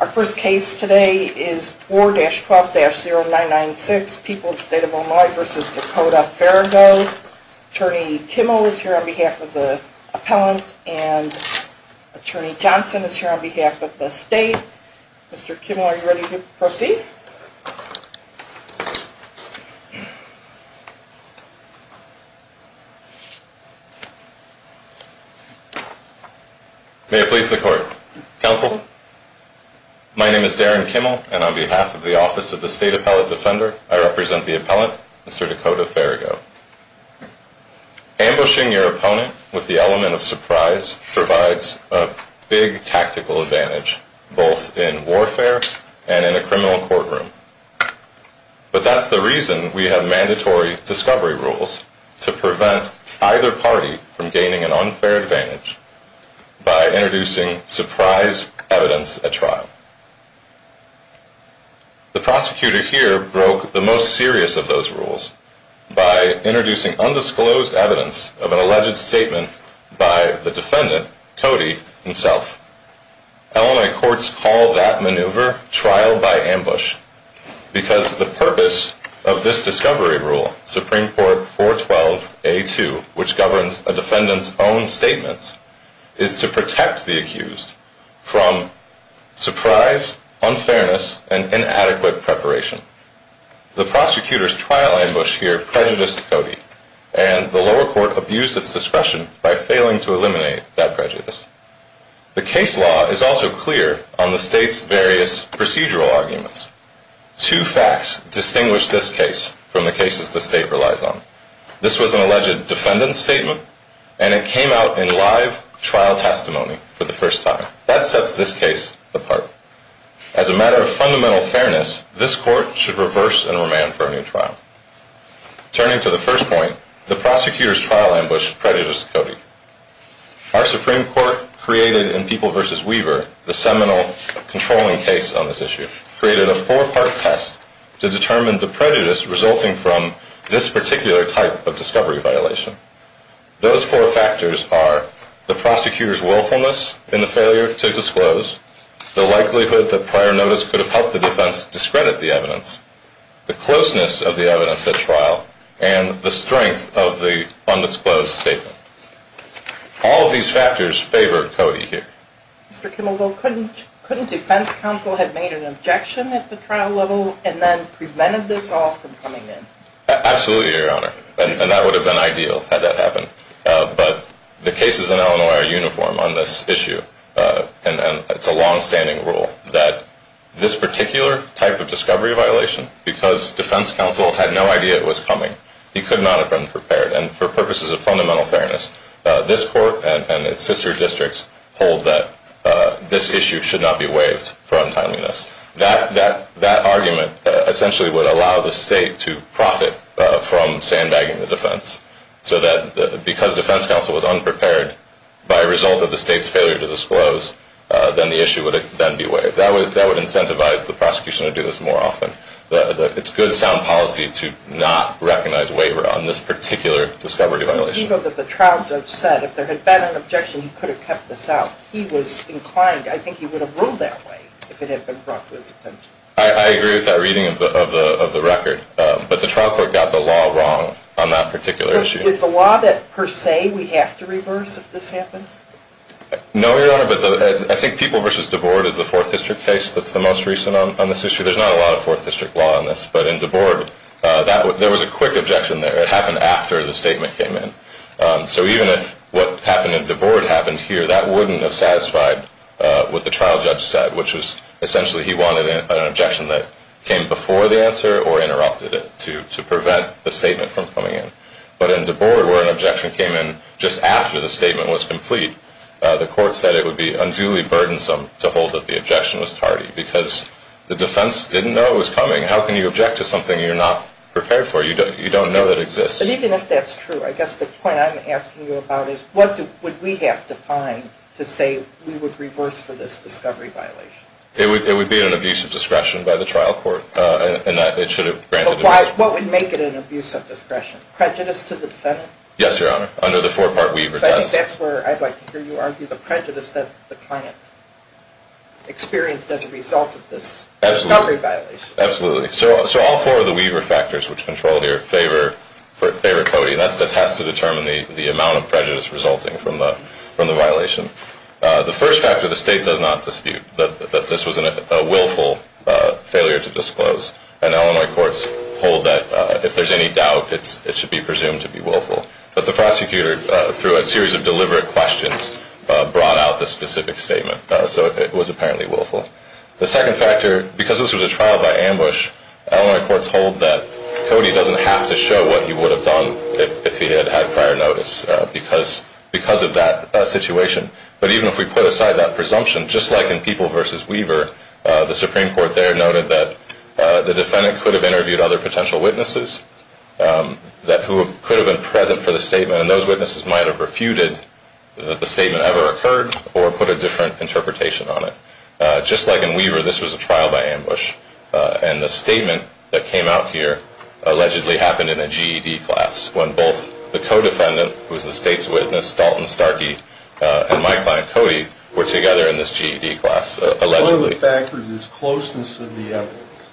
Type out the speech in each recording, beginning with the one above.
Our first case today is 4-12-0996, People of the State of Illinois v. Dakota Pherigo. Attorney Kimmel is here on behalf of the appellant and Attorney Johnson is here on behalf of the state. Mr. Kimmel, are you ready to proceed? May it please the court. Counsel? My name is Darren Kimmel and on behalf of the Office of the State Appellate Defender, I represent the appellant, Mr. Dakota Pherigo. Ambushing your opponent with the element of surprise provides a big tactical advantage both in warfare and in a criminal courtroom. But that's the reason we have mandatory discovery rules to prevent either party from gaining an unfair advantage by introducing surprise evidence at trial. The prosecutor here broke the most serious of those rules by introducing undisclosed evidence of an alleged statement by the defendant, Cody, himself. Illinois courts call that maneuver trial by ambush because the purpose of this discovery rule, Supreme Court 4-12-A-2, which governs a defendant's own statements, is to protect the accused from surprise, unfairness, and inadequate preparation. The prosecutor's trial ambush here prejudiced Cody and the lower court abused its discretion by failing to eliminate that prejudice. The case law is also clear on the state's various procedural arguments. Two facts distinguish this case from the cases the state relies on. This was an alleged defendant's statement and it came out in live trial testimony for the first time. That sets this case apart. As a matter of fundamental fairness, this court should reverse and remand for a new trial. Turning to the first point, the prosecutor's trial ambush prejudiced Cody. Our Supreme Court created in People v. Weaver, the seminal controlling case on this issue, created a four-part test to determine the prejudice resulting from this particular type of discovery violation. Those four factors are the prosecutor's willfulness in the failure to disclose, the likelihood that prior notice could have helped the defense discredit the evidence, the closeness of the evidence at trial, and the strength of the undisclosed statement. All of these factors favor Cody here. Mr. Kimmel, couldn't defense counsel have made an objection at the trial level and then prevented this all from coming in? Absolutely, Your Honor. And that would have been ideal had that happened. But the cases in Illinois are uniform on this issue. And it's a longstanding rule that this particular type of discovery violation, because defense counsel had no idea it was coming, he could not have been prepared. And for purposes of fundamental fairness, this court and its sister districts hold that this issue should not be waived for untimeliness. That argument essentially would allow the state to profit from sandbagging the defense. So that because defense counsel was unprepared by result of the state's failure to disclose, then the issue would then be waived. That would incentivize the prosecution to do this more often. It's good sound policy to not recognize waiver on this particular discovery violation. But the trial judge said if there had been an objection, he could have kept this out. He was inclined. I think he would have ruled that way if it had been brought to his attention. I agree with that reading of the record. But the trial court got the law wrong on that particular issue. Is the law that per se we have to reverse if this happens? No, Your Honor. But I think People v. DeBoard is the fourth district case that's the most recent on this issue. There's not a lot of fourth district law on this. But in DeBoard, there was a quick objection there. It happened after the statement came in. So even if what happened in DeBoard happened here, that wouldn't have satisfied what the trial judge said, which was essentially he wanted an objection that came before the answer or interrupted it to prevent the statement from coming in. But in DeBoard where an objection came in just after the statement was complete, the court said it would be unduly burdensome to hold that the objection was tardy because the defense didn't know it was coming. How can you object to something you're not prepared for? You don't know it exists. But even if that's true, I guess the point I'm asking you about is what would we have to find to say we would reverse for this discovery violation? It would be an abuse of discretion by the trial court in that it should have granted an abuse. But what would make it an abuse of discretion? Prejudice to the defendant? Yes, Your Honor, under the four-part Weaver test. So I think that's where I'd like to hear you argue the prejudice that the client experienced as a result of this discovery violation. Absolutely. So all four of the Weaver factors which control here favor Cody. And that's the test to determine the amount of prejudice resulting from the violation. The first factor, the State does not dispute that this was a willful failure to disclose. And Illinois courts hold that if there's any doubt, it should be presumed to be willful. But the prosecutor, through a series of deliberate questions, brought out the specific statement. So it was apparently willful. The second factor, because this was a trial by ambush, Illinois courts hold that Cody doesn't have to show what he would have done if he had had prior notice because of that situation. But even if we put aside that presumption, just like in People v. Weaver, the Supreme Court there noted that the defendant could have interviewed other potential witnesses who could have been present for the statement. And those witnesses might have refuted that the statement ever occurred or put a different interpretation on it. Just like in Weaver, this was a trial by ambush. And the statement that came out here allegedly happened in a GED class when both the co-defendant, who was the State's witness, Dalton Starkey, and my client, Cody, were together in this GED class, allegedly. One of the factors is closeness of the evidence.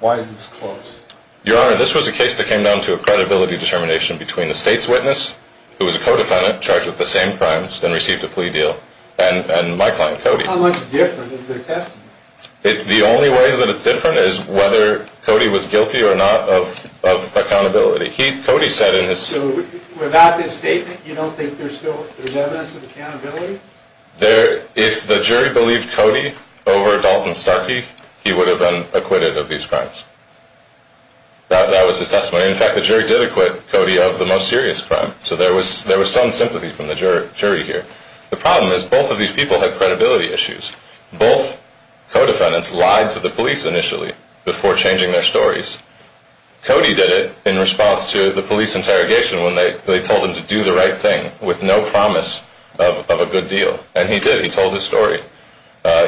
Why is this close? Your Honor, this was a case that came down to a credibility determination between the State's witness, who was a co-defendant charged with the same crimes and received a plea deal, and my client, Cody. How much different is their testimony? The only way that it's different is whether Cody was guilty or not of accountability. Cody said in his... So without this statement, you don't think there's evidence of accountability? If the jury believed Cody over Dalton Starkey, he would have been acquitted of these crimes. That was his testimony. In fact, the jury did acquit Cody of the most serious crime. So there was some sympathy from the jury here. The problem is both of these people had credibility issues. Both co-defendants lied to the police initially before changing their stories. Cody did it in response to the police interrogation when they told him to do the right thing with no promise of a good deal, and he did. He told his story.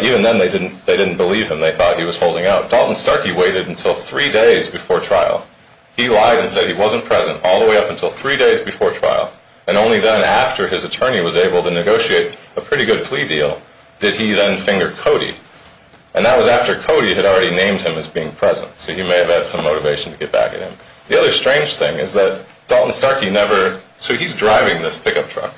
Even then, they didn't believe him. They thought he was holding out. Dalton Starkey waited until three days before trial. He lied and said he wasn't present all the way up until three days before trial, and only then, after his attorney was able to negotiate a pretty good plea deal, did he then finger Cody. And that was after Cody had already named him as being present. So he may have had some motivation to get back at him. The other strange thing is that Dalton Starkey never... So he's driving this pickup truck.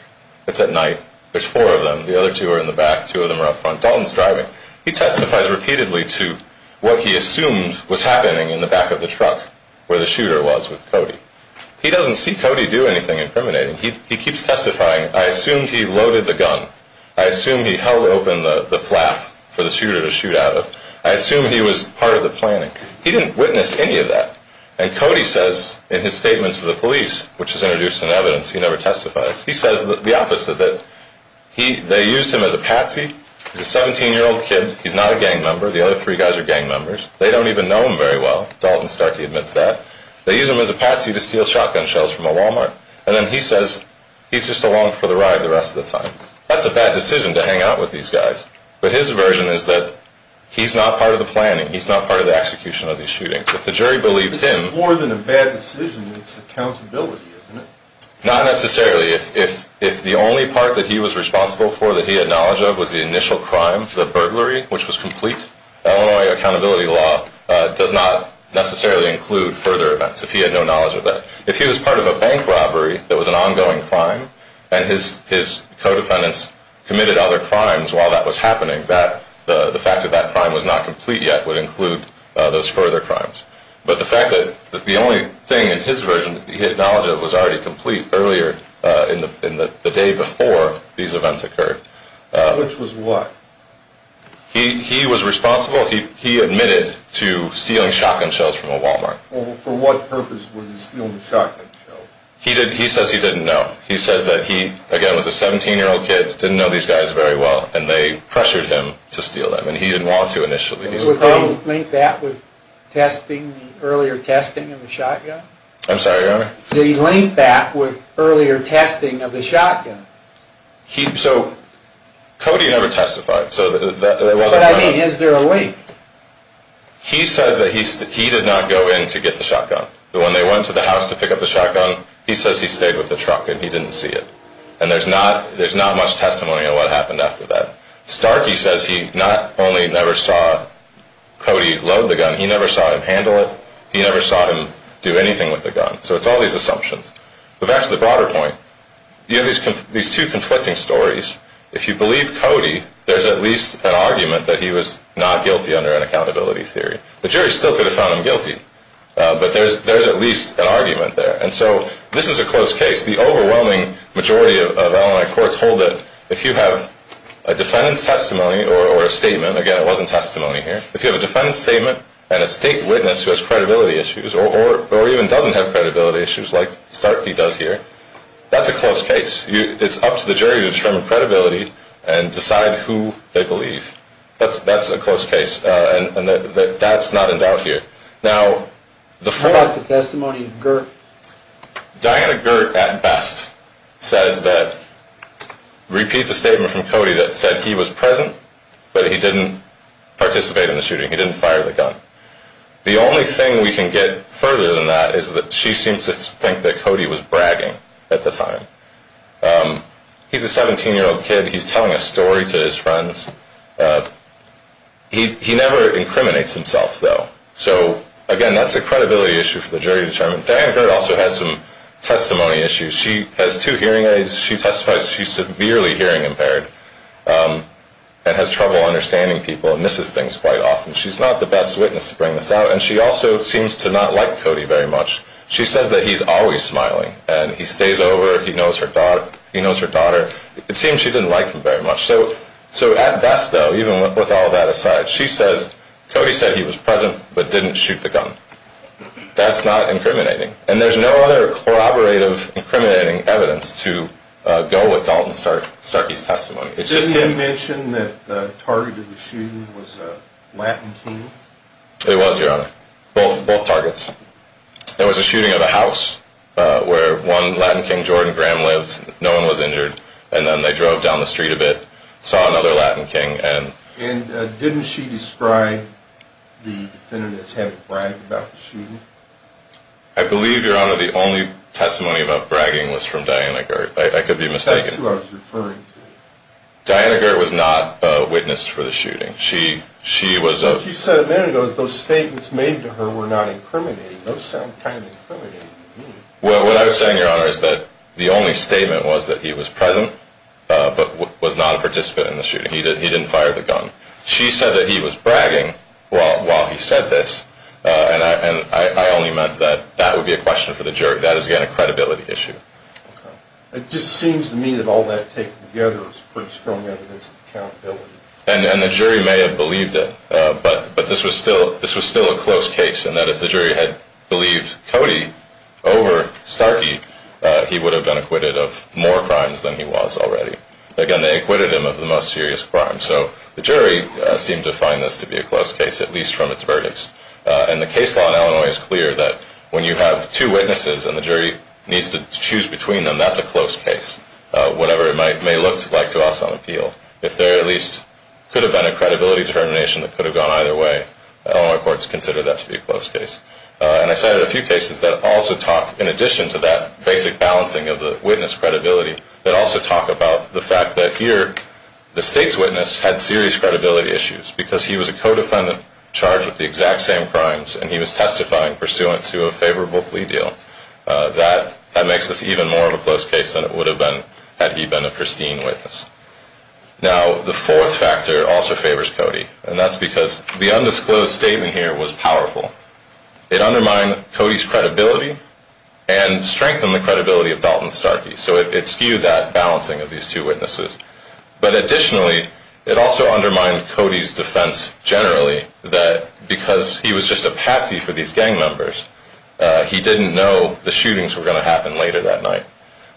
It's at night. There's four of them. The other two are in the back. Two of them are up front. Dalton's driving. He testifies repeatedly to what he assumed was happening in the back of the truck where the shooter was with Cody. He doesn't see Cody do anything incriminating. He keeps testifying. I assume he loaded the gun. I assume he held open the flap for the shooter to shoot out of. I assume he was part of the planning. He didn't witness any of that. And Cody says in his statement to the police, which is introduced in evidence, he never testifies. He says the opposite, that they used him as a patsy. He's a 17-year-old kid. He's not a gang member. The other three guys are gang members. They don't even know him very well. Dalton Starkey admits that. They used him as a patsy to steal shotgun shells from a Walmart. And then he says he's just along for the ride the rest of the time. That's a bad decision to hang out with these guys. But his version is that he's not part of the planning. He's not part of the execution of these shootings. If the jury believed him. This is more than a bad decision. It's accountability, isn't it? Not necessarily. If the only part that he was responsible for that he had knowledge of was the initial crime, the burglary, which was complete, Illinois accountability law does not necessarily include further events if he had no knowledge of that. If he was part of a bank robbery that was an ongoing crime, and his co-defendants committed other crimes while that was happening, the fact that that crime was not complete yet would include those further crimes. But the fact that the only thing in his version that he had knowledge of was already complete earlier, in the day before these events occurred. Which was what? He was responsible. He admitted to stealing shotgun shells from a Walmart. For what purpose was he stealing the shotgun shells? He says he didn't know. He says that he, again, was a 17-year-old kid. Didn't know these guys very well. And they pressured him to steal them. And he didn't want to initially. Did he link that with testing, the earlier testing of the shotgun? I'm sorry, Your Honor? Did he link that with earlier testing of the shotgun? So, Cody never testified. But I mean, is there a link? He says that he did not go in to get the shotgun. When they went to the house to pick up the shotgun, he says he stayed with the truck and he didn't see it. And there's not much testimony on what happened after that. Stark, he says he not only never saw Cody load the gun, he never saw him handle it. He never saw him do anything with the gun. So it's all these assumptions. But back to the broader point, these two conflicting stories, if you believe Cody, there's at least an argument that he was not guilty under an accountability theory. The jury still could have found him guilty. But there's at least an argument there. And so this is a close case. The overwhelming majority of Illinois courts hold that if you have a defendant's testimony or a statement, again, it wasn't testimony here, if you have a defendant's statement and a state witness who has credibility issues or even doesn't have credibility issues like Starky does here, that's a close case. It's up to the jury to determine credibility and decide who they believe. That's a close case. And that's not in doubt here. Now, the full- What about the testimony of Gert? Diana Gert, at best, says that, repeats a statement from Cody that said he was present, but he didn't participate in the shooting. He didn't fire the gun. The only thing we can get further than that is that she seems to think that Cody was bragging at the time. He's a 17-year-old kid. He's telling a story to his friends. He never incriminates himself, though. So, again, that's a credibility issue for the jury to determine. Diana Gert also has some testimony issues. She has two hearing aids. She testifies she's severely hearing impaired and has trouble understanding people and misses things quite often. She's not the best witness to bring this out, and she also seems to not like Cody very much. She says that he's always smiling and he stays over, he knows her daughter. It seems she didn't like him very much. So, at best, though, even with all that aside, she says Cody said he was present but didn't shoot the gun. That's not incriminating. And there's no other corroborative, incriminating evidence to go with Dalton Starkey's testimony. Didn't you mention that the target of the shooting was a Latin King? It was, Your Honor. Both targets. There was a shooting at a house where one Latin King, Jordan Graham, lived. No one was injured. And then they drove down the street a bit, saw another Latin King. And didn't she describe the defendant as having bragged about the shooting? I believe, Your Honor, the only testimony about bragging was from Diana Gert. I could be mistaken. That's who I was referring to. Diana Gert was not a witness for the shooting. She said a minute ago that those statements made to her were not incriminating. Those sound kind of incriminating to me. Well, what I was saying, Your Honor, is that the only statement was that he was present but was not a participant in the shooting. He didn't fire the gun. She said that he was bragging while he said this, and I only meant that that would be a question for the jury. That is, again, a credibility issue. It just seems to me that all that taken together is pretty strong evidence of accountability. And the jury may have believed it, but this was still a close case, and that if the jury had believed Cody over Starkey, he would have been acquitted of more crimes than he was already. Again, they acquitted him of the most serious crime. So the jury seemed to find this to be a close case, at least from its verdicts. And the case law in Illinois is clear that when you have two witnesses and the jury needs to choose between them, that's a close case, whatever it may look like to us on appeal. If there at least could have been a credibility determination that could have gone either way, Illinois courts consider that to be a close case. And I cited a few cases that also talk, in addition to that basic balancing of the witness credibility, that also talk about the fact that here the State's witness had serious credibility issues because he was a co-defendant charged with the exact same crimes, and he was testifying pursuant to a favorable plea deal. That makes this even more of a close case than it would have been had he been a pristine witness. Now, the fourth factor also favors Cody, and that's because the undisclosed statement here was powerful. It undermined Cody's credibility and strengthened the credibility of Dalton Starkey. So it skewed that balancing of these two witnesses. But additionally, it also undermined Cody's defense generally that because he was just a patsy for these gang members, he didn't know the shootings were going to happen later that night.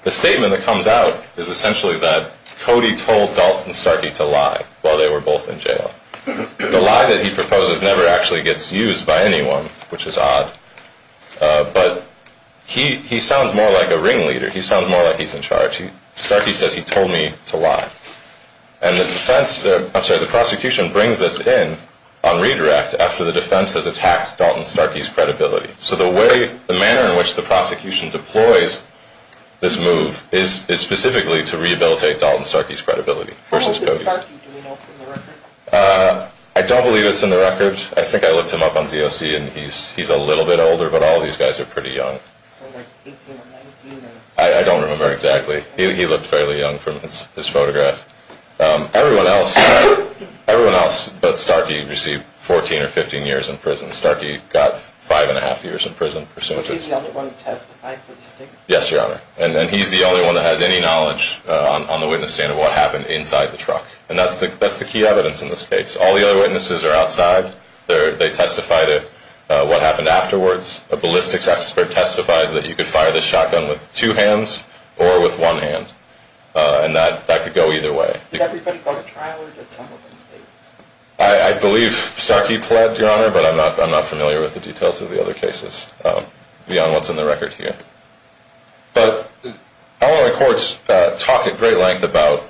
The statement that comes out is essentially that Cody told Dalton Starkey to lie while they were both in jail. The lie that he proposes never actually gets used by anyone, which is odd. But he sounds more like a ringleader. He sounds more like he's in charge. Starkey says he told me to lie. And the prosecution brings this in on redirect after the defense has attacked Dalton Starkey's credibility. So the manner in which the prosecution deploys this move is specifically to rehabilitate Dalton Starkey's credibility versus Cody's. How old is Starkey? Do we know from the record? I don't believe it's in the record. I think I looked him up on DOC, and he's a little bit older, but all these guys are pretty young. So like 18 or 19? I don't remember exactly. He looked fairly young from his photograph. Everyone else but Starkey received 14 or 15 years in prison. Starkey got five and a half years in prison. Was he the only one who testified for the state? Yes, Your Honor. And he's the only one that has any knowledge on the witness stand of what happened inside the truck. And that's the key evidence in this case. All the other witnesses are outside. They testify to what happened afterwards. A ballistics expert testifies that you could fire this shotgun with two hands or with one hand. And that could go either way. Did everybody go to trial or did someone leave? I believe Starkey pled, Your Honor, but I'm not familiar with the details of the other cases beyond what's in the record here. But our courts talk at great length about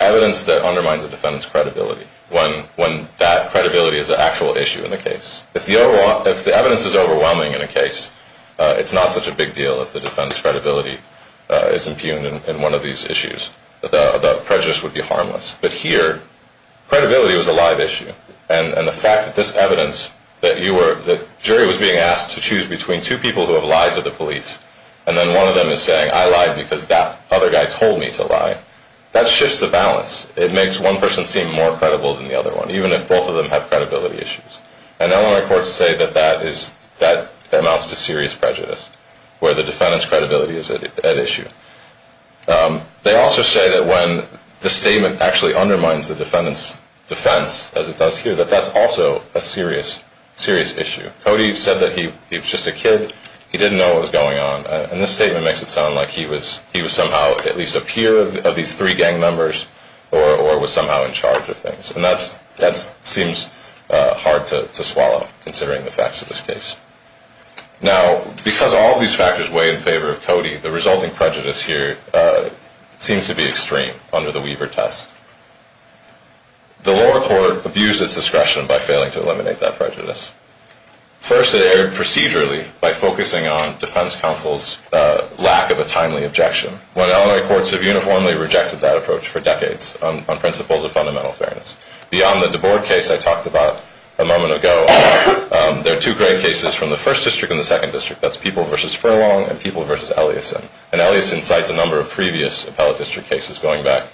evidence that undermines a defendant's credibility, when that credibility is an actual issue in the case. If the evidence is overwhelming in a case, it's not such a big deal if the defendant's credibility is impugned in one of these issues. The prejudice would be harmless. But here, credibility was a live issue. And the fact that this evidence that the jury was being asked to choose between two people who have lied to the police and then one of them is saying, I lied because that other guy told me to lie, that shifts the balance. It makes one person seem more credible than the other one, even if both of them have credibility issues. And Illinois courts say that that amounts to serious prejudice, where the defendant's credibility is at issue. They also say that when the statement actually undermines the defendant's defense, as it does here, that that's also a serious issue. Cody said that he was just a kid. He didn't know what was going on. And this statement makes it sound like he was somehow at least a peer of these three gang members or was somehow in charge of things. And that seems hard to swallow, considering the facts of this case. Now, because all of these factors weigh in favor of Cody, the resulting prejudice here seems to be extreme under the Weaver test. The lower court abused its discretion by failing to eliminate that prejudice. First, it erred procedurally by focusing on defense counsel's lack of a timely objection. Illinois courts have uniformly rejected that approach for decades on principles of fundamental fairness. Beyond the DeBoer case I talked about a moment ago, there are two great cases from the first district and the second district. That's People v. Furlong and People v. Eliasson. And Eliasson cites a number of previous appellate district cases going back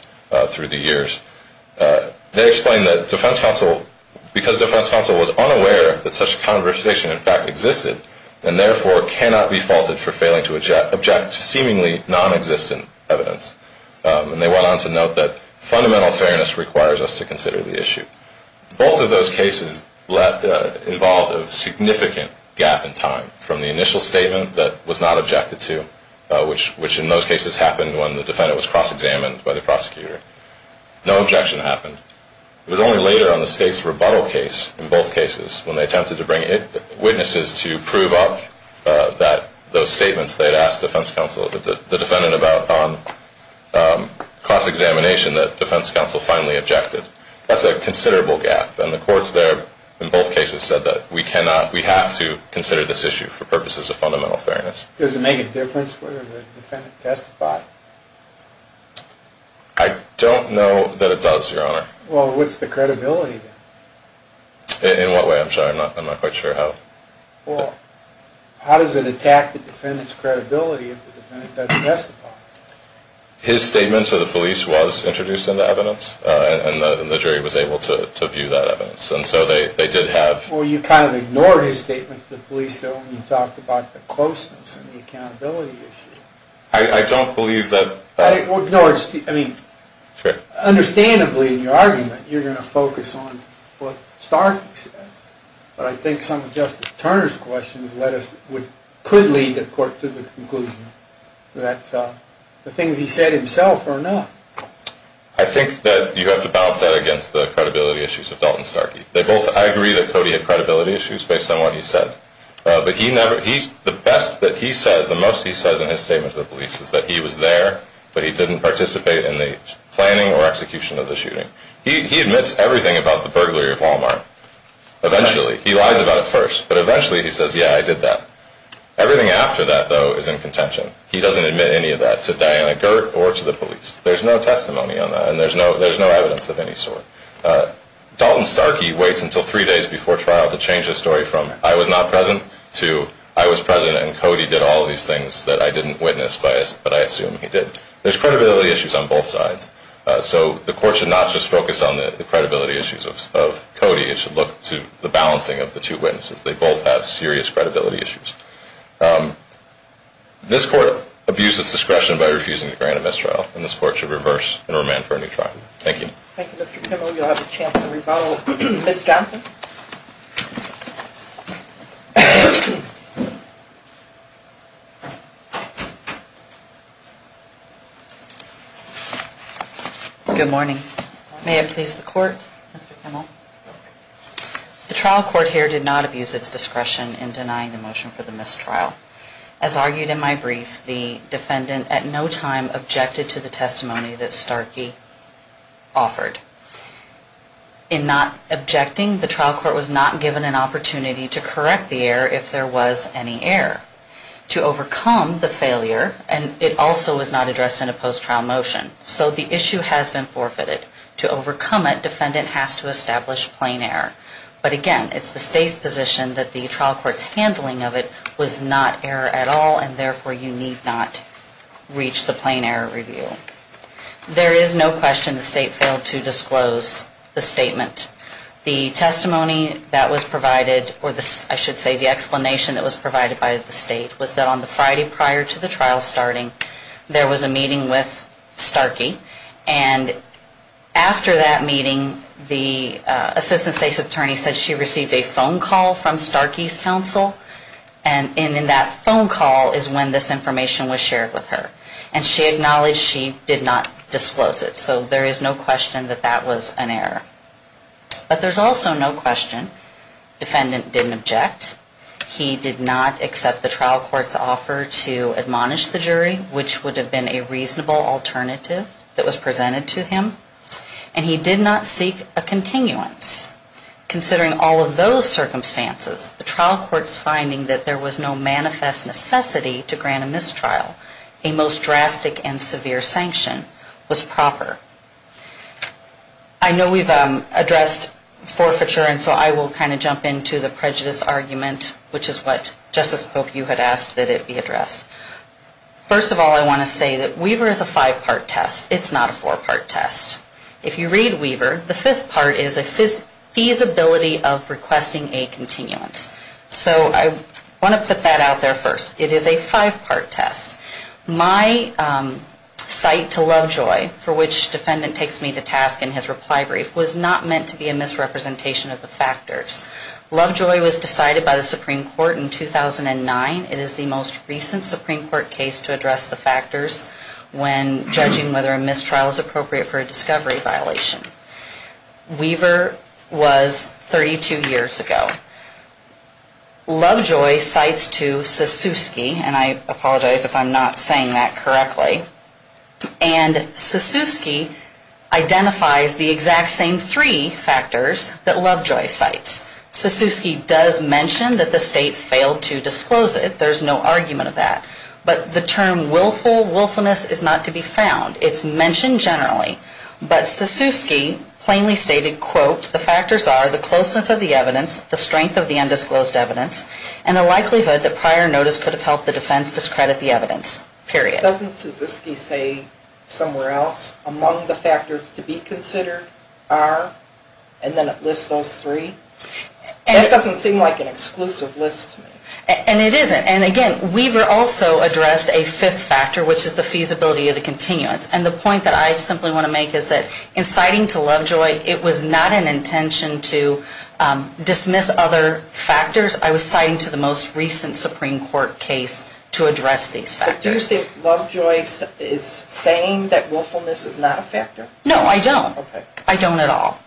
through the years. They explain that defense counsel, because defense counsel was unaware that such a conversation in fact existed, and therefore cannot be faulted for failing to object to seemingly nonexistent evidence. And they went on to note that fundamental fairness requires us to consider the issue. Both of those cases involved a significant gap in time from the initial statement that was not objected to, which in those cases happened when the defendant was cross-examined by the prosecutor. No objection happened. It was only later on the state's rebuttal case, in both cases, when they attempted to bring in witnesses to prove up those statements they'd asked defense counsel, the defendant about cross-examination that defense counsel finally objected. That's a considerable gap. And the courts there in both cases said that we cannot, we have to consider this issue for purposes of fundamental fairness. Does it make a difference whether the defendant testified? I don't know that it does, Your Honor. Well, what's the credibility then? In what way? I'm sorry, I'm not quite sure how. Well, how does it attack the defendant's credibility if the defendant doesn't testify? His statement to the police was introduced into evidence, and the jury was able to view that evidence. And so they did have... Well, you kind of ignored his statement to the police, though, when you talked about the closeness and the accountability issue. I don't believe that... No, I mean, understandably, in your argument, you're going to focus on what Starkey says. But I think some of Justice Turner's questions could lead the court to the conclusion that the things he said himself are enough. I think that you have to balance that against the credibility issues of Dalton Starkey. I agree that Cody had credibility issues based on what he said. But the best that he says, the most he says in his statement to the police, is that he was there, but he didn't participate in the planning or execution of the shooting. He admits everything about the burglary of Walmart. Eventually. He lies about it first, but eventually he says, yeah, I did that. Everything after that, though, is in contention. He doesn't admit any of that to Diana Gert or to the police. There's no testimony on that, and there's no evidence of any sort. Dalton Starkey waits until three days before trial to change his story from, I was not present, to, I was present and Cody did all these things that I didn't witness, but I assume he did. There's credibility issues on both sides. So the court should not just focus on the credibility issues of Cody. It should look to the balancing of the two witnesses. They both have serious credibility issues. This court abuses discretion by refusing to grant a mistrial, and this court should reverse and remand for a new trial. Thank you. Thank you, Mr. Kimmel. You'll have a chance to rebuttal. Ms. Johnson? Good morning. May it please the court, Mr. Kimmel? The trial court here did not abuse its discretion in denying the motion for the mistrial. As argued in my brief, the defendant at no time objected to the testimony that Starkey offered. In not objecting, the trial court was not given an opportunity to correct the error if there was any error. To overcome the failure, and it also was not addressed in a post-trial motion, so the issue has been forfeited. To overcome it, defendant has to establish plain error. But again, it's the state's position that the trial court's handling of it was not error at all, and therefore you need not reach the plain error review. There is no question the state failed to disclose the statement. The testimony that was provided, or I should say the explanation that was provided by the state, was that on the Friday prior to the trial starting, there was a meeting with Starkey, and after that meeting, the assistant state's attorney said she received a phone call from Starkey's counsel, and in that phone call is when this information was shared with her. And she acknowledged she did not disclose it, so there is no question that that was an error. But there's also no question defendant didn't object. He did not accept the trial court's offer to admonish the jury, which would have been a reasonable alternative that was presented to him, and he did not seek a continuance. Considering all of those circumstances, the trial court's finding that there was no manifest necessity to grant a mistrial, a most drastic and severe sanction, was proper. I know we've addressed forfeiture, and so I will kind of jump into the prejudice argument, which is what Justice Pope, you had asked that it be addressed. First of all, I want to say that Weaver is a five-part test. It's not a four-part test. If you read Weaver, the fifth part is a feasibility of requesting a continuance. So I want to put that out there first. It is a five-part test. My cite to Lovejoy, for which defendant takes me to task in his reply brief, was not meant to be a misrepresentation of the factors. Lovejoy was decided by the Supreme Court in 2009. It is the most recent Supreme Court case to address the factors when judging whether a mistrial is appropriate for a discovery violation. Weaver was 32 years ago. Lovejoy cites to Sasewski, and I apologize if I'm not saying that correctly, and Sasewski identifies the exact same three factors that Lovejoy cites. Sasewski does mention that the State failed to disclose it. There's no argument of that. But the term willful, willfulness is not to be found. It's mentioned generally. But Sasewski plainly stated, quote, the factors are the closeness of the evidence, the strength of the undisclosed evidence, and the likelihood that prior notice could have helped the defense discredit the evidence, period. Doesn't Sasewski say somewhere else, among the factors to be considered are, and then it lists those three? That doesn't seem like an exclusive list to me. And it isn't. And again, Weaver also addressed a fifth factor, which is the feasibility of the continuance. And the point that I simply want to make is that in citing to Lovejoy, it was not an intention to dismiss other factors. I was citing to the most recent Supreme Court case to address these factors. Do you think Lovejoy is saying that willfulness is not a factor? No, I don't. Okay. I don't at all.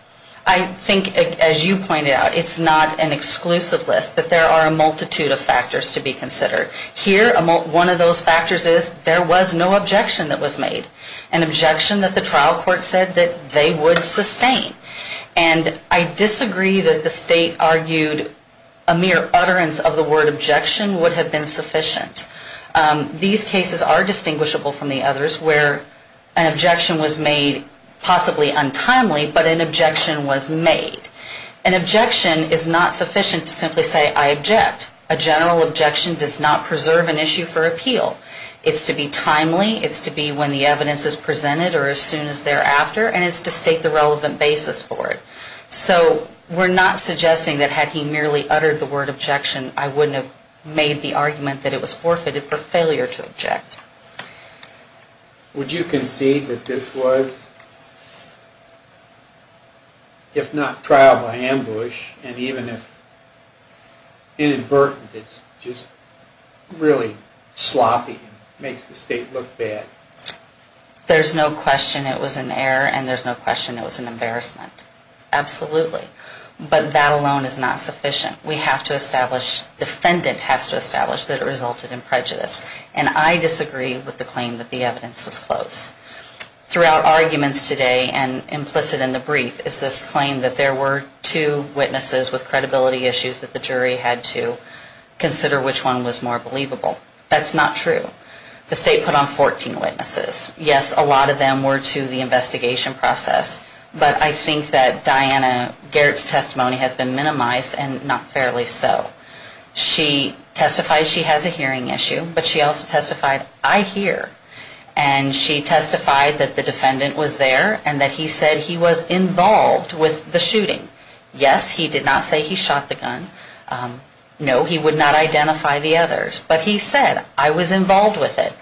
I think, as you pointed out, it's not an exclusive list, but there are a multitude of factors to be considered. Here, one of those factors is there was no objection that was made, an objection that the trial court said that they would sustain. And I disagree that the State argued a mere utterance of the word objection would have been sufficient. These cases are distinguishable from the others where an objection was made possibly untimely, but an objection was made. An objection is not sufficient to simply say, I object. A general objection does not preserve an issue for appeal. It's to be timely, it's to be when the evidence is presented, or as soon as thereafter, and it's to state the relevant basis for it. So we're not suggesting that had he merely uttered the word objection, I wouldn't have made the argument that it was forfeited for failure to object. Would you concede that this was, if not trial by ambush, and even if inadvertent, it's just really sloppy and makes the State look bad? There's no question it was an error, and there's no question it was an embarrassment. Absolutely. But that alone is not sufficient. We have to establish, the defendant has to establish that it resulted in prejudice. And I disagree with the claim that the evidence was close. Throughout arguments today, and implicit in the brief, is this claim that there were two witnesses with credibility issues that the jury had to consider which one was more believable. That's not true. The State put on 14 witnesses. Yes, a lot of them were to the investigation process, but I think that Diana Garrett's testimony has been minimized, and not fairly so. She testified she has a hearing issue, but she also testified, I hear. And she testified that the defendant was there, and that he said he was involved with the shooting. Yes, he did not say he shot the gun. No, he would not identify the others. But he said, I was involved with it.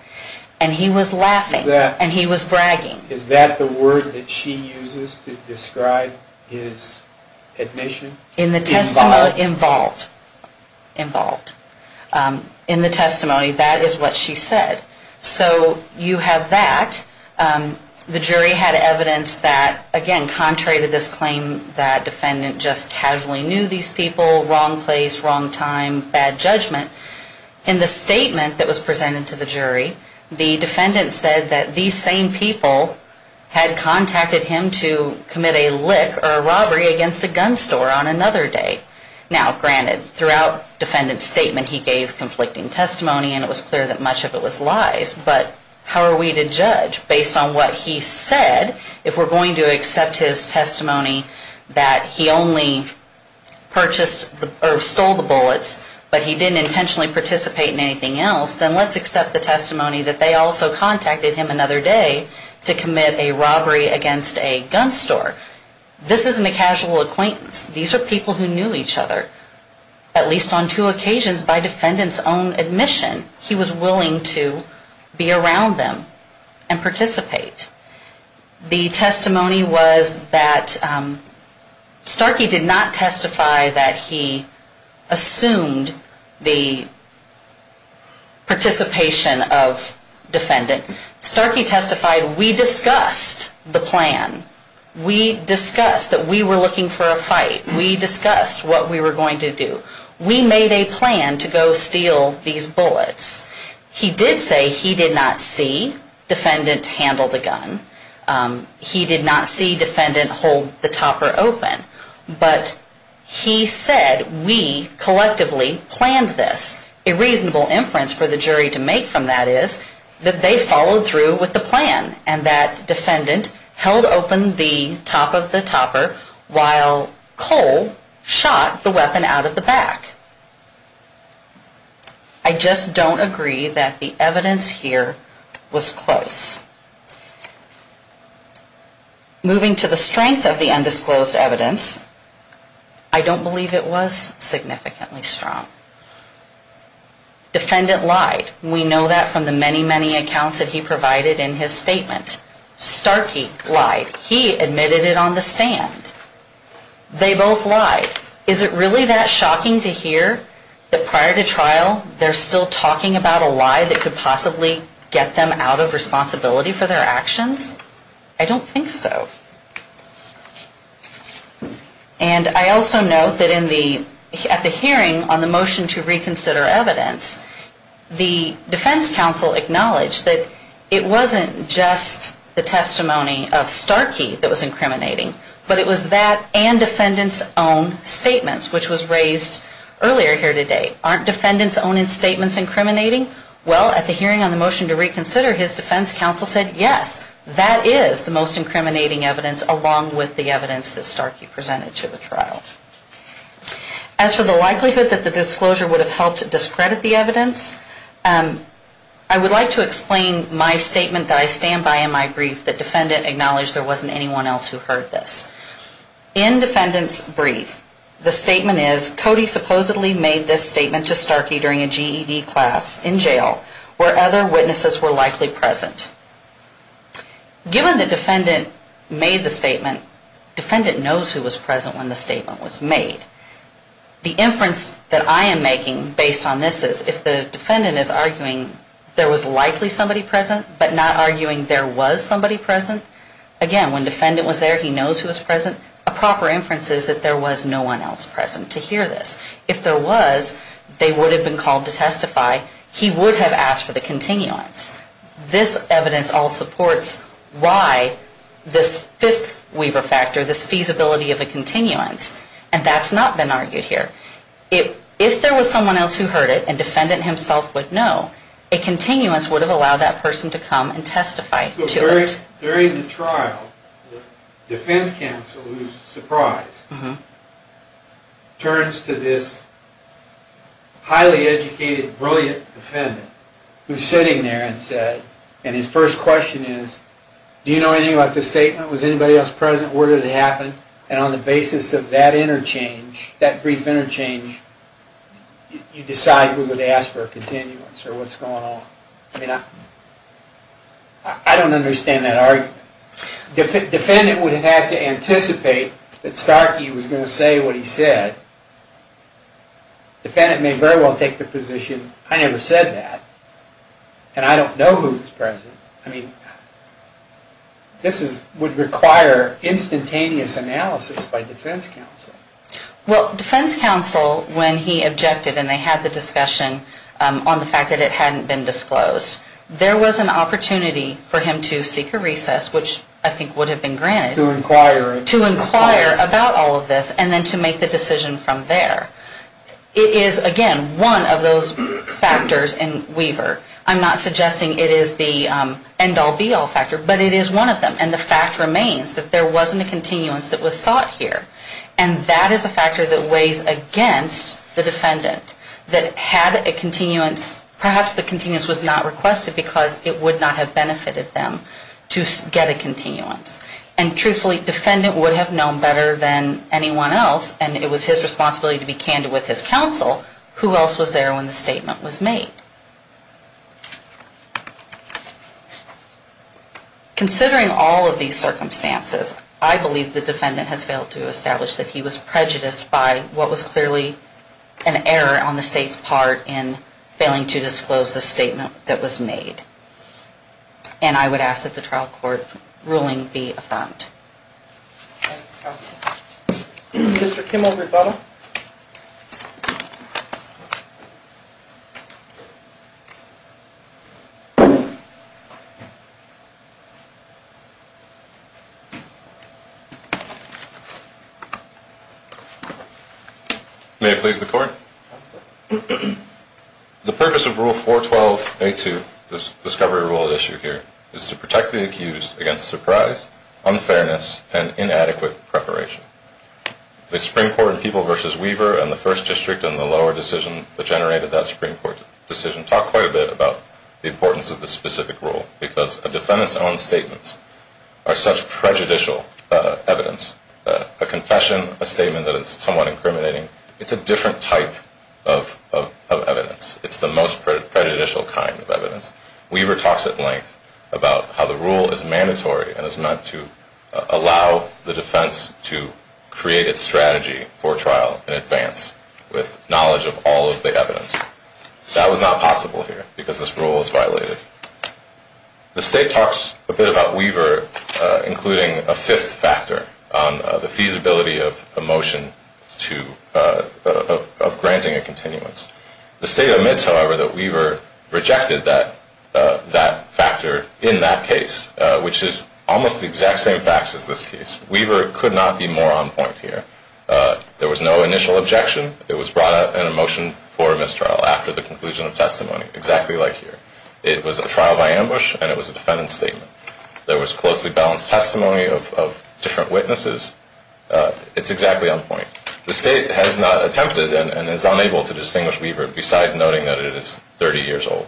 And he was laughing, and he was bragging. Is that the word that she uses to describe his admission? Involved. Involved. In the testimony, that is what she said. So you have that. The jury had evidence that, again, contrary to this claim, that defendant just casually knew these people, wrong place, wrong time, bad judgment. In the statement that was presented to the jury, the defendant said that these same people had contacted him to commit a lick or a robbery against a gun store on another day. Now, granted, throughout defendant's statement, he gave conflicting testimony, and it was clear that much of it was lies. But how are we to judge based on what he said? If we're going to accept his testimony that he only purchased or stole the bullets, but he didn't intentionally participate in anything else, then let's accept the testimony that they also contacted him another day to commit a robbery against a gun store. This isn't a casual acquaintance. These are people who knew each other, at least on two occasions, by defendant's own admission. He was willing to be around them and participate. The testimony was that Starkey did not testify that he assumed the participation of defendant. Starkey testified, we discussed the plan. We discussed that we were looking for a fight. We discussed what we were going to do. We made a plan to go steal these bullets. He did say he did not see defendant handle the gun. He did not see defendant hold the topper open. But he said we collectively planned this. A reasonable inference for the jury to make from that is that they followed through with the plan, and that defendant held open the top of the topper while Cole shot the weapon out of the back. I just don't agree that the evidence here was close. Moving to the strength of the undisclosed evidence, I don't believe it was significantly strong. Defendant lied. We know that from the many, many accounts that he provided in his statement. Starkey lied. He admitted it on the stand. They both lied. Is it really that shocking to hear that prior to trial, they're still talking about a lie that could possibly get them out of responsibility for their actions? I don't think so. And I also note that at the hearing on the motion to reconsider evidence, the defense counsel acknowledged that it wasn't just the testimony of Starkey that was incriminating, but it was that and defendant's own statements, which was raised earlier here today. Aren't defendant's own statements incriminating? Well, at the hearing on the motion to reconsider, his defense counsel said, yes, that is the most incriminating evidence along with the evidence that Starkey presented to the trial. As for the likelihood that the disclosure would have helped discredit the evidence, I would like to explain my statement that I stand by and I would like to explain my brief that defendant acknowledged there wasn't anyone else who heard this. In defendant's brief, the statement is, Cody supposedly made this statement to Starkey during a GED class in jail where other witnesses were likely present. Given the defendant made the statement, defendant knows who was present when the statement was made. The inference that I am making based on this is, if the defendant is arguing there was likely somebody present, but not arguing there was somebody present, again, when defendant was there, he knows who was present, a proper inference is that there was no one else present to hear this. If there was, they would have been called to testify. He would have asked for the continuance. This evidence all supports why this fifth weaver factor, this feasibility of a continuance, and that's not been argued here. If there was someone else who heard it, and defendant himself would know, a continuance would have allowed that person to come and testify to it. During the trial, the defense counsel, who is surprised, turns to this highly educated, brilliant defendant, who is sitting there and said, and his first question is, do you know anything about this statement? Was anybody else present? Where did it happen? And on the basis of that interchange, that brief interchange, you decide who would ask for a continuance, or what's going on. I don't understand that argument. Defendant would have had to anticipate that Starkey was going to say what he said. Defendant may very well take the position, I never said that, and I don't know who was present. I mean, this would require instantaneous analysis by defense counsel. Well, defense counsel, when he objected, and they had the discussion on the fact that it hadn't been disclosed, there was an opportunity for him to seek a recess, which I think would have been granted. To inquire. To inquire about all of this, and then to make the decision from there. It is, again, one of those factors in weaver. I'm not suggesting it is the end-all, be-all factor, but it is one of them. And the fact remains that there wasn't a continuance that was sought here. And that is a factor that weighs against the defendant, that had a continuance, perhaps the continuance was not requested because it would not have benefited them to get a continuance. And truthfully, defendant would have known better than anyone else, and it was his responsibility to be candid with his counsel, who else was there when the statement was made. Considering all of these circumstances, I believe the defendant has failed to establish that he was prejudiced by what was clearly an error on the State's part in failing to disclose the statement that was made. And I would ask that the trial court ruling be affirmed. Thank you, counsel. Mr. Kimmel, rebuttal. May I please the court? The purpose of Rule 412A2, the discovery rule at issue here, is to protect the accused against surprise, unfairness, and inadequate preparation. The Supreme Court in People v. Weaver and the First District in the lower decision that generated that Supreme Court decision talked quite a bit about the importance of this specific rule because a defendant's own statements are such prejudicial evidence. A confession, a statement that is somewhat incriminating, it's a different type of evidence. It's the most prejudicial kind of evidence. Weaver talks at length about how the rule is mandatory and is meant to allow the defense to create its strategy for trial in advance with knowledge of all of the evidence. That was not possible here because this rule was violated. The State talks a bit about Weaver, including a fifth factor, the feasibility of a motion of granting a continuance. The State admits, however, that Weaver rejected that factor in that case, which is almost the exact same facts as this case. Weaver could not be more on point here. There was no initial objection. It was brought out in a motion for mistrial after the conclusion of testimony, exactly like here. It was a trial by ambush, and it was a defendant's statement. There was closely balanced testimony of different witnesses. It's exactly on point. The State has not attempted and is unable to distinguish Weaver besides noting that it is 30 years old.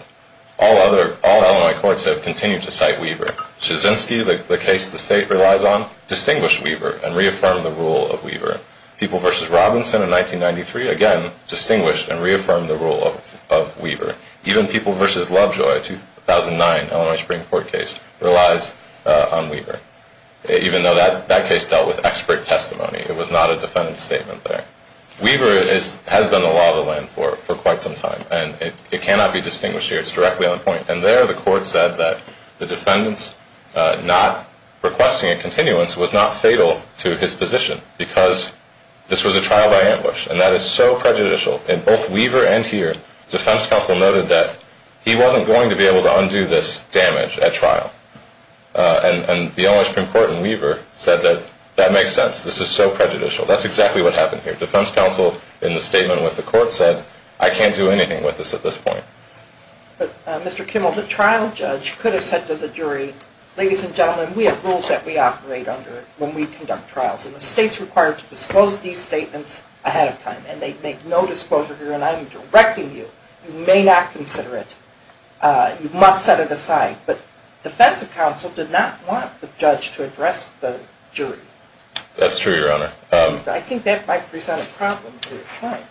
All Illinois courts have continued to cite Weaver. Chizinski, the case the State relies on, distinguished Weaver and reaffirmed the rule of Weaver. People v. Robinson in 1993, again, distinguished and reaffirmed the rule of Weaver. Even People v. Lovejoy, 2009 Illinois Supreme Court case, relies on Weaver, even though that case dealt with expert testimony. It was not a defendant's statement there. Weaver has been the law of the land for quite some time, and it cannot be distinguished here. It's directly on point. And there the Court said that the defendant's not requesting a continuance was not fatal to his position because this was a trial by ambush, and that is so prejudicial. In both Weaver and here, defense counsel noted that he wasn't going to be able to undo this damage at trial. And the Illinois Supreme Court in Weaver said that that makes sense. This is so prejudicial. That's exactly what happened here. Defense counsel in the statement with the Court said, I can't do anything with this at this point. But, Mr. Kimmel, the trial judge could have said to the jury, Ladies and gentlemen, we have rules that we operate under when we conduct trials, and the State's required to disclose these statements ahead of time, and they make no disclosure here, and I'm directing you. You may not consider it. You must set it aside. But defense counsel did not want the judge to address the jury. That's true, Your Honor. I think that might present a problem.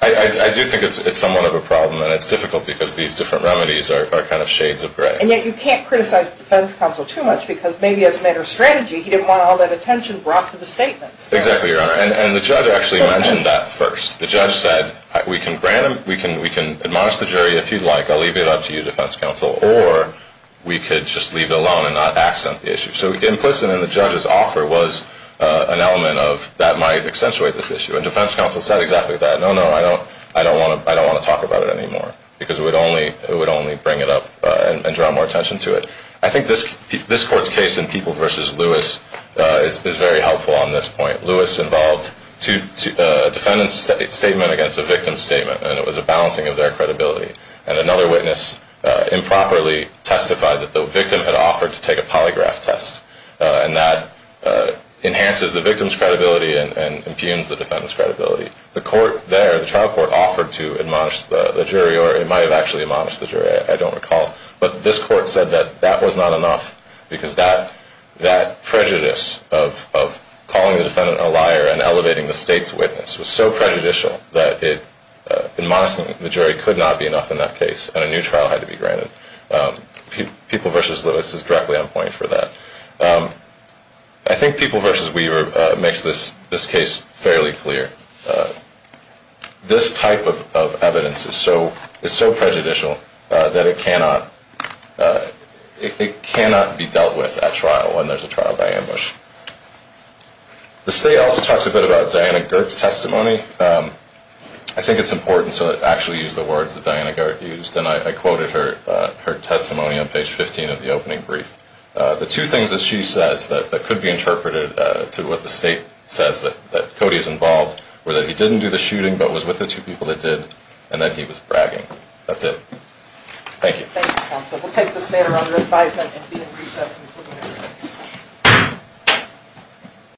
I do think it's somewhat of a problem, and it's difficult because these different remedies are kind of shades of gray. And yet you can't criticize defense counsel too much because maybe as a matter of strategy he didn't want all that attention brought to the statements. Exactly, Your Honor. And the judge actually mentioned that first. The judge said, we can admonish the jury if you'd like. I'll leave it up to you, defense counsel. Or we could just leave it alone and not accent the issue. So implicit in the judge's offer was an element that might accentuate this issue. And defense counsel said exactly that. No, no, I don't want to talk about it anymore because it would only bring it up and draw more attention to it. I think this Court's case in People v. Lewis is very helpful on this point. Lewis involved a defendant's statement against a victim's statement, and it was a balancing of their credibility. And another witness improperly testified that the victim had offered to take a polygraph test, and that enhances the victim's credibility and impugns the defendant's credibility. The trial court offered to admonish the jury, or it might have actually admonished the jury, I don't recall. But this Court said that that was not enough because that prejudice of calling the defendant a liar and elevating the state's witness was so prejudicial that it would not be enough in that case, and a new trial had to be granted. People v. Lewis is directly on point for that. I think People v. Weaver makes this case fairly clear. This type of evidence is so prejudicial that it cannot be dealt with at trial when there's a trial by ambush. The state also talks a bit about Diana Girt's testimony. I think it's important to actually use the words that Diana Girt used, and I quoted her testimony on page 15 of the opening brief. The two things that she says that could be interpreted to what the state says that Cody is involved were that he didn't do the shooting, but was with the two people that did, and that he was bragging. That's it. Thank you. Thank you, counsel. We'll take this matter under advisement and be in recess until the next case.